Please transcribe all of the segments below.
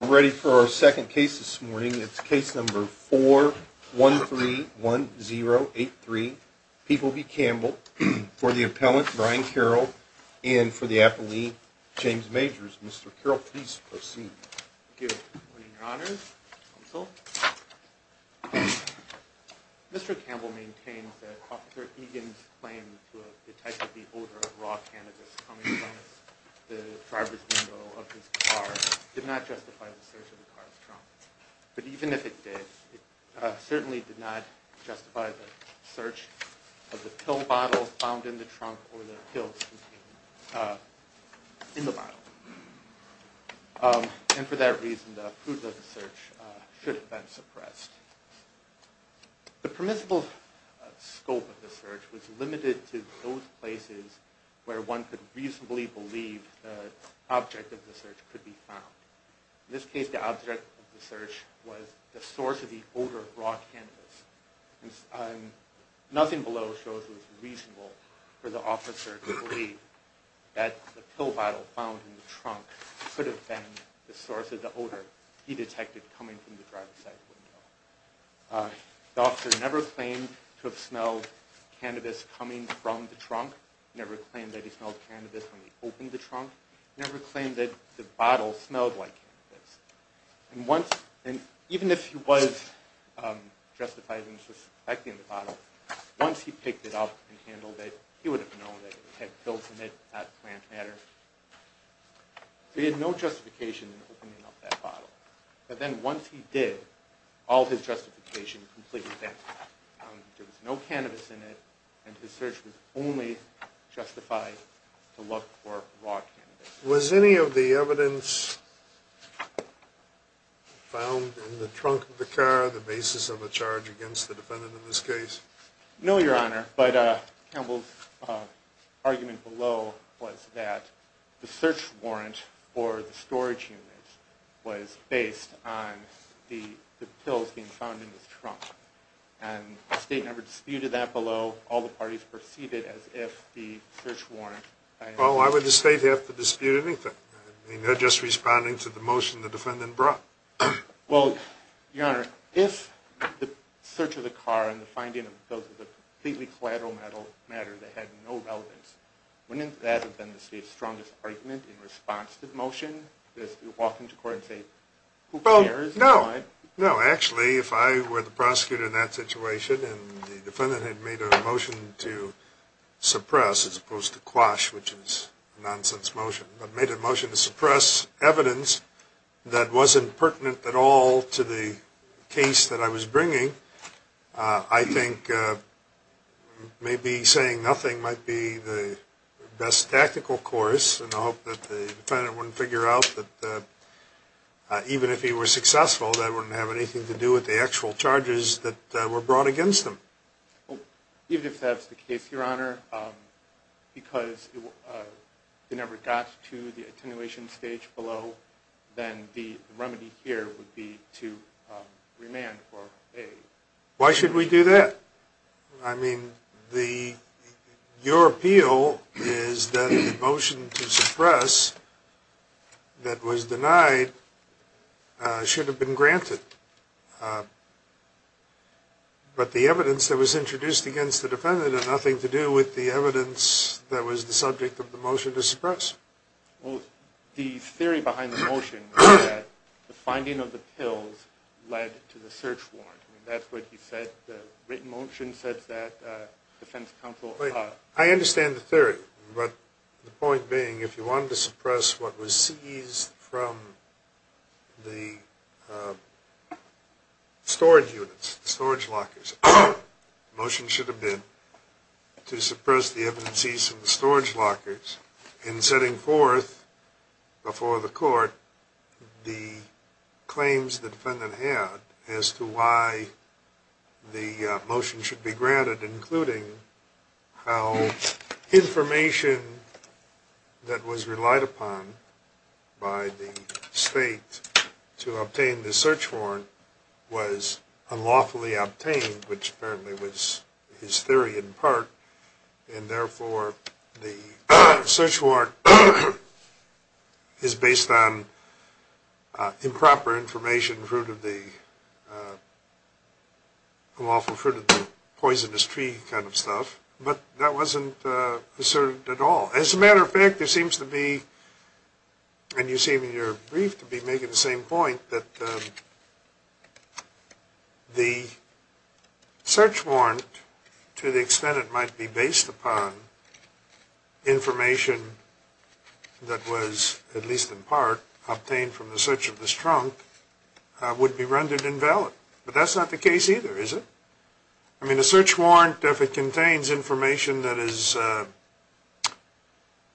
I'm ready for our second case this morning. It's case number 4131083 Peeble v. Campbell for the appellant, Brian Carroll, and for the appellee, James Majors. Mr. Carroll, please proceed. Good morning, your honors. Counsel. Mr. Campbell maintains that Officer Egan's claim to have detected the odor of raw cannabis coming from the driver's window of his car did not justify the search of the car's trunk. But even if it did, it certainly did not justify the search of the pill bottle found in the trunk or the pills contained in the bottle. And for that reason, the proof of the search should have been suppressed. The permissible scope of the search was limited to those places where one could reasonably believe the object of the search could be found. In this case, the object of the search was the source of the odor of raw cannabis. Nothing below shows it was reasonable for the officer to believe that the pill bottle found in the trunk could have been the source of the odor he detected coming from the driver's side window. The officer never claimed to have smelled cannabis coming from the trunk, never claimed that he smelled cannabis when he opened the trunk, never claimed that the bottle smelled like cannabis. And even if he was justified in suspecting the bottle, once he picked it up and handled it, he would have known that it had pills in it, not plant matter. So he had no justification in opening up that bottle. But then once he did, all his justification completely vanished. There was no cannabis in it, and his search was only justified to look for raw cannabis. Was any of the evidence found in the trunk of the car the basis of a charge against the defendant in this case? No, Your Honor, but Campbell's argument below was that the search warrant for the storage unit was based on the pills being found in his trunk. And the state never disputed that below. All the parties perceived it as if the search warrant... Well, why would the state have to dispute anything? I mean, they're just responding to the motion the defendant brought. Well, Your Honor, if the search of the car and the finding of pills was a completely collateral matter that had no relevance, wouldn't that have been the state's strongest argument in response to the motion, to walk into court and say, who cares? No. No, actually, if I were the prosecutor in that situation and the defendant had made a motion to suppress, as opposed to quash, which is a nonsense motion, but made a motion to suppress evidence that wasn't pertinent at all to the case that I was bringing, I think maybe saying nothing might be the best tactical course. And I hope that the defendant wouldn't figure out that even if he was successful, that wouldn't have anything to do with the actual charges that were brought against him. Even if that's the case, Your Honor, because it never got to the attenuation stage below, then the remedy here would be to remand for a... that was denied should have been granted. But the evidence that was introduced against the defendant had nothing to do with the evidence that was the subject of the motion to suppress. Well, the theory behind the motion was that the finding of the pills led to the search warrant. I mean, that's what he said. The written motion says that defense counsel... I understand the theory, but the point being, if you wanted to suppress what was seized from the storage units, the storage lockers, the motion should have been to suppress the evidences in the storage lockers in setting forth before the court the claims the defendant had as to why the motion should be granted, including how information that was relied upon by the state to obtain the search warrant was unlawfully obtained, which apparently was his theory in part, and therefore the search warrant is based on improper information, fruit of the... unlawful fruit of the poisonous tree kind of stuff, but that wasn't asserted at all. As a matter of fact, there seems to be, and you seem in your brief to be making the same point, that the search warrant, to the extent it might be based upon, information that was, at least in part, obtained from the search of this trunk, would be rendered invalid. But that's not the case either, is it? I mean, a search warrant, if it contains information that is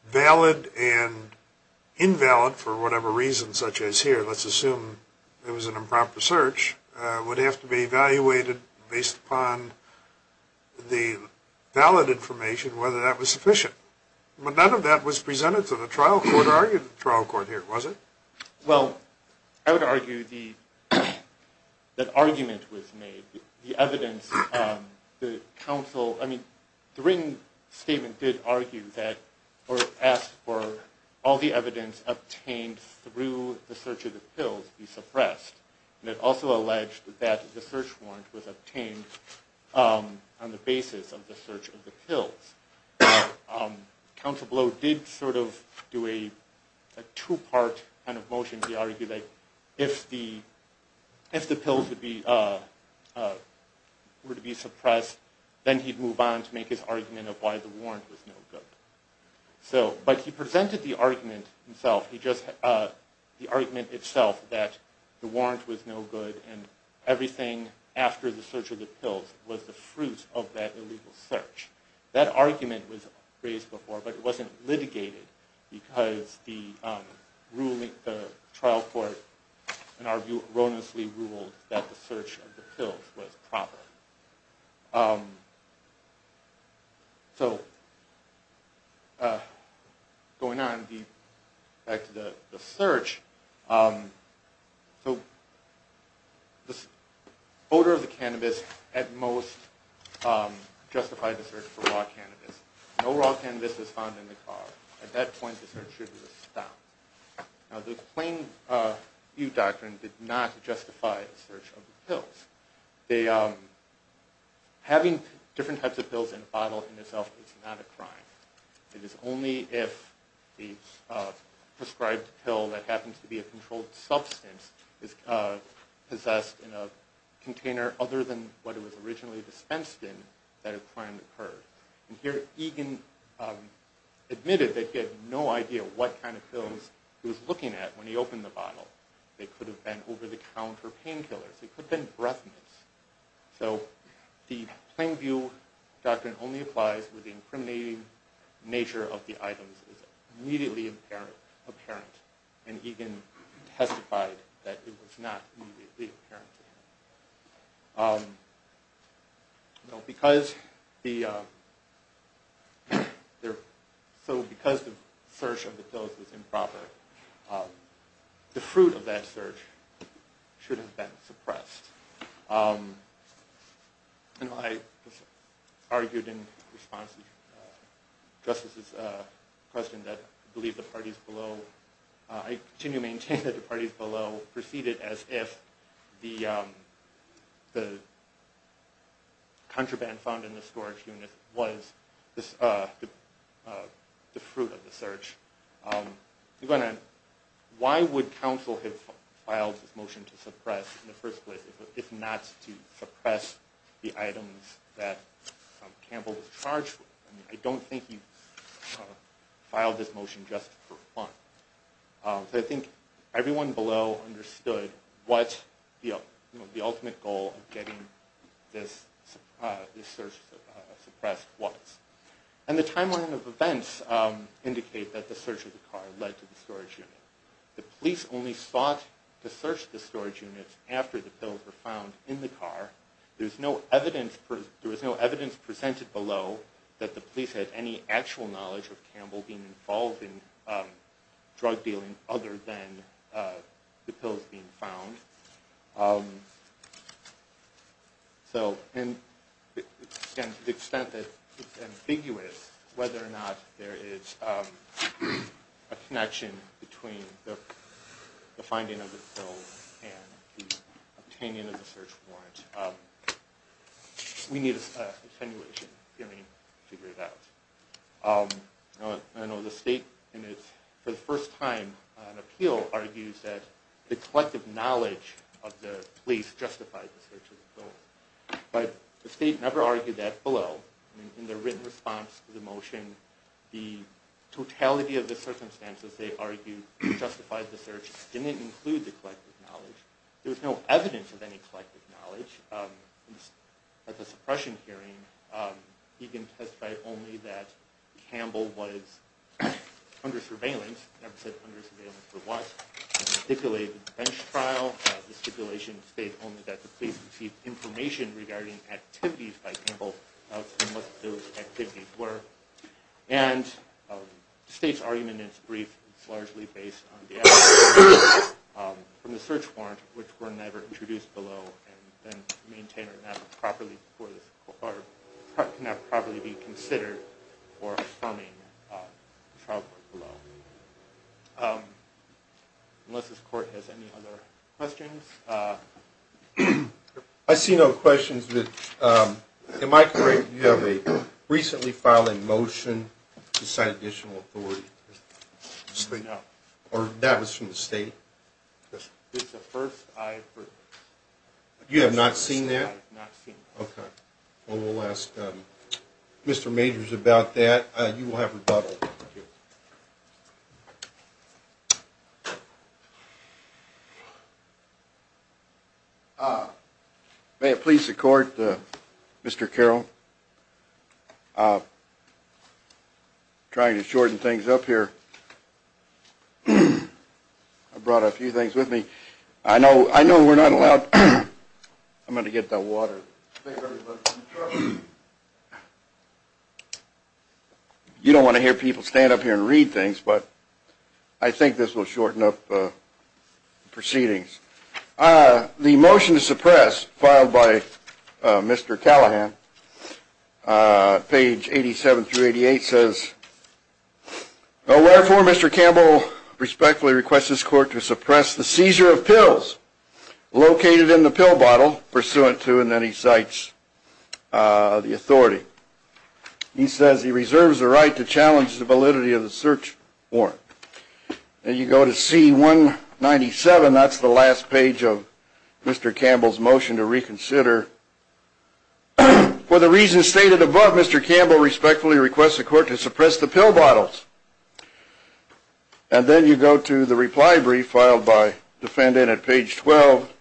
valid and invalid for whatever reason, such as here, let's assume it was an improper search, would have to be evaluated based upon the valid information, whether that was sufficient. But none of that was presented to the trial court or argued to the trial court here, was it? Well, I would argue that argument was made. The written statement did argue that, or ask for, all the evidence obtained through the search of the pills be suppressed. And it also alleged that the search warrant was obtained on the basis of the search of the pills. Counsel Blow did sort of do a two-part kind of motion. He argued that if the pills were to be suppressed, then he'd move on to make his argument of why the warrant was no good. But he presented the argument itself, that the warrant was no good, and everything after the search of the pills was the fruit of that illegal search. That argument was raised before, but it wasn't litigated because the trial court erroneously ruled that the search of the pills was proper. Going on, back to the search, the odor of the cannabis at most justified the search for raw cannabis. No raw cannabis was found in the car. At that point, the search should have been stopped. Now, the plain view doctrine did not justify the search of the pills. Having different types of pills in a bottle in itself is not a crime. It is only if the prescribed pill that happens to be a controlled substance is possessed in a container other than what it was originally dispensed in, that a crime occurred. And here, Egan admitted that he had no idea what kind of pills he was looking at when he opened the bottle. They could have been over-the-counter painkillers. They could have been breath mints. So, the plain view doctrine only applies when the incriminating nature of the items is immediately apparent, and Egan testified that it was not immediately apparent. So, because the search of the pills was improper, the fruit of that search should have been suppressed. I argued in response to Justice's question that I continue to maintain that the parties below proceeded as if the contraband found in the storage unit was the fruit of the search. Why would counsel have filed this motion to suppress, in the first place, if not to suppress the items that Campbell was charged with? I don't think he filed this motion just for fun. I think everyone below understood what the ultimate goal of getting this search suppressed was. And the timeline of events indicate that the search of the car led to the storage unit. The police only sought to search the storage unit after the pills were found in the car. There was no evidence presented below that the police had any actual knowledge of Campbell being involved in drug dealing other than the pills being found. So, to the extent that it's ambiguous whether or not there is a connection between the finding of the pills and the obtaining of the search warrant, we need an extenuation to figure it out. I know the state, for the first time on appeal, argues that the collective knowledge of the police justified the search. But the state never argued that below. In their written response to the motion, the totality of the circumstances they argued justified the search didn't include the collective knowledge. There was no evidence of any collective knowledge. At the suppression hearing, he testified only that Campbell was under surveillance. He never said under surveillance for what. He stipulated bench trial. The stipulation states only that the police received information regarding activities by Campbell and what those activities were. And the state's argument in its brief is largely based on the evidence from the search warrant, which were never introduced below. And can that properly be considered for affirming trial court below? Unless this court has any other questions. I see no questions. Am I correct, you have a recently filed motion to cite additional authority? No. Or that was from the state? It's the first I've heard. You have not seen that? I have not seen that. Okay. Well, we'll ask Mr. Majors about that. You will have rebuttal. Thank you. May it please the court, Mr. Carroll. Trying to shorten things up here. I brought a few things with me. I know we're not allowed. I'm going to get the water. You don't want to hear people stand up here and read things, but I think this will shorten up proceedings. The motion to suppress filed by Mr. Callahan, page 87 through 88, says, Wherefore, Mr. Campbell respectfully requests this court to suppress the seizure of pills located in the pill bottle pursuant to, and then he cites the authority. He says he reserves the right to challenge the validity of the search warrant. And you go to C-197. That's the last page of Mr. Campbell's motion to reconsider. For the reasons stated above, Mr. Campbell respectfully requests the court to suppress the pill bottles. And then you go to the reply brief filed by defendant at page 12.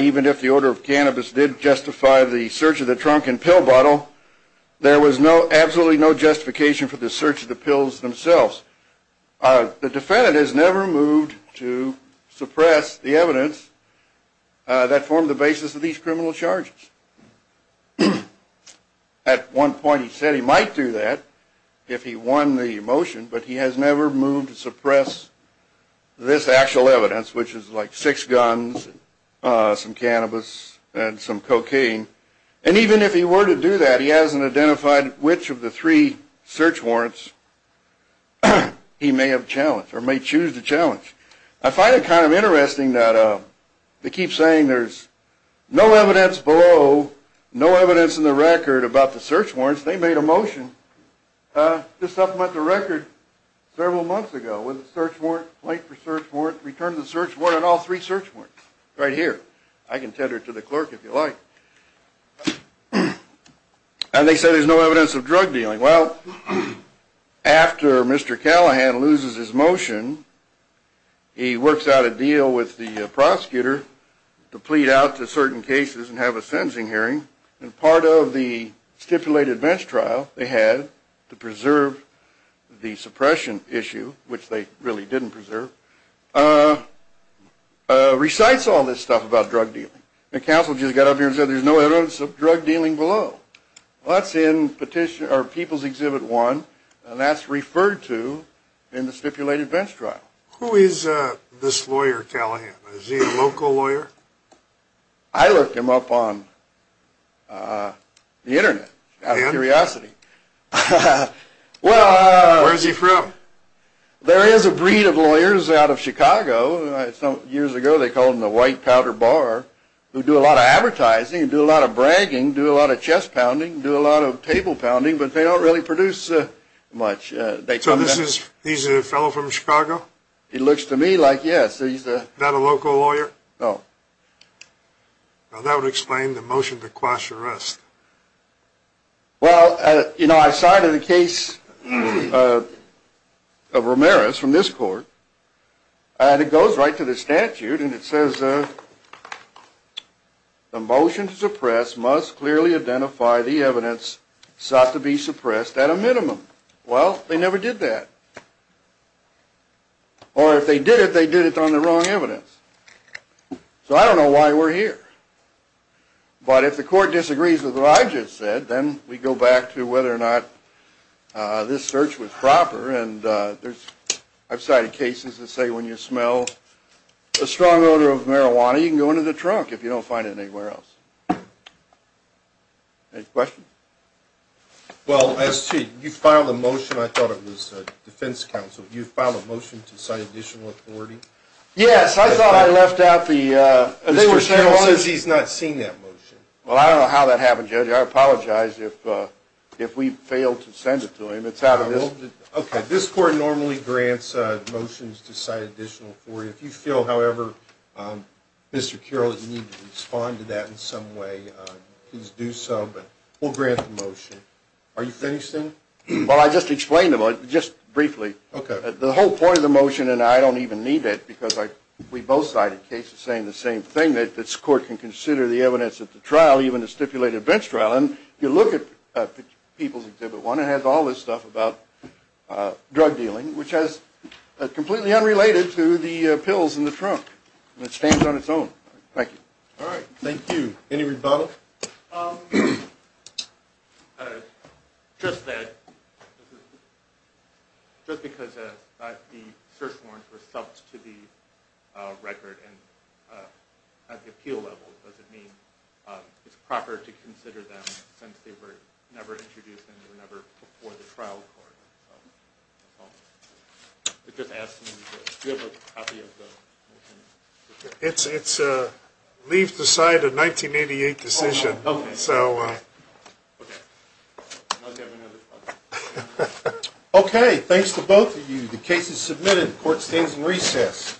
Even if the order of cannabis did justify the search of the drunken pill bottle, there was absolutely no justification for the search of the pills themselves. The defendant has never moved to suppress the evidence that formed the basis of these criminal charges. At one point he said he might do that if he won the motion, but he has never moved to suppress this actual evidence, which is like six guns, some cannabis, and some cocaine. And even if he were to do that, he hasn't identified which of the three search warrants he may have challenged or may choose to challenge. I find it kind of interesting that they keep saying there's no evidence below, no evidence in the record about the search warrants. They made a motion to supplement the record several months ago with a search warrant, late for search warrant, return to the search warrant, and all three search warrants right here. I can tender it to the clerk if you like. And they say there's no evidence of drug dealing. Well, after Mr. Callahan loses his motion, he works out a deal with the prosecutor to plead out to certain cases and have a sentencing hearing. And part of the stipulated bench trial they had to preserve the suppression issue, which they really didn't preserve, recites all this stuff about drug dealing. The counsel just got up here and said there's no evidence of drug dealing below. Well, that's in People's Exhibit 1, and that's referred to in the stipulated bench trial. Who is this lawyer, Callahan? Is he a local lawyer? I looked him up on the Internet out of curiosity. Where is he from? Years ago they called him the white powder bar who do a lot of advertising and do a lot of bragging, do a lot of chest pounding, do a lot of table pounding, but they don't really produce much. So he's a fellow from Chicago? It looks to me like yes. Is that a local lawyer? No. Well, that would explain the motion to quash arrest. Well, you know, I cited a case of Ramirez from this court. And it goes right to the statute, and it says the motion to suppress must clearly identify the evidence sought to be suppressed at a minimum. Well, they never did that. Or if they did it, they did it on the wrong evidence. So I don't know why we're here. But if the court disagrees with what I just said, then we go back to whether or not this search was proper. And I've cited cases that say when you smell a strong odor of marijuana, you can go into the trunk if you don't find it anywhere else. Any questions? Well, you filed a motion. I thought it was defense counsel. You filed a motion to cite additional authority? Yes. I thought I left out the ‑‑ Mr. Carroll says he's not seen that motion. Well, I don't know how that happened, Judge. I apologize if we failed to send it to him. It's out of this. Okay. This court normally grants motions to cite additional authority. If you feel, however, Mr. Carroll, you need to respond to that in some way, please do so. But we'll grant the motion. Are you finished, then? Well, I just explained the motion, just briefly. Okay. The whole point of the motion, and I don't even need it because we both cited cases saying the same thing, that this court can consider the evidence at the trial, even the stipulated bench trial. And if you look at People's Exhibit 1, it has all this stuff about drug dealing, which is completely unrelated to the pills in the trunk. It stands on its own. Thank you. All right. Thank you. Any rebuttals? Just that, just because the search warrants were subbed to the record at the appeal level, does it mean it's proper to consider them since they were never introduced and they were never before the trial court? It just asks me to do it. Do you have a copy of the motion? It leaves the side a 1988 decision. Okay. Okay. Thanks to both of you. The case is submitted. Court stays in recess.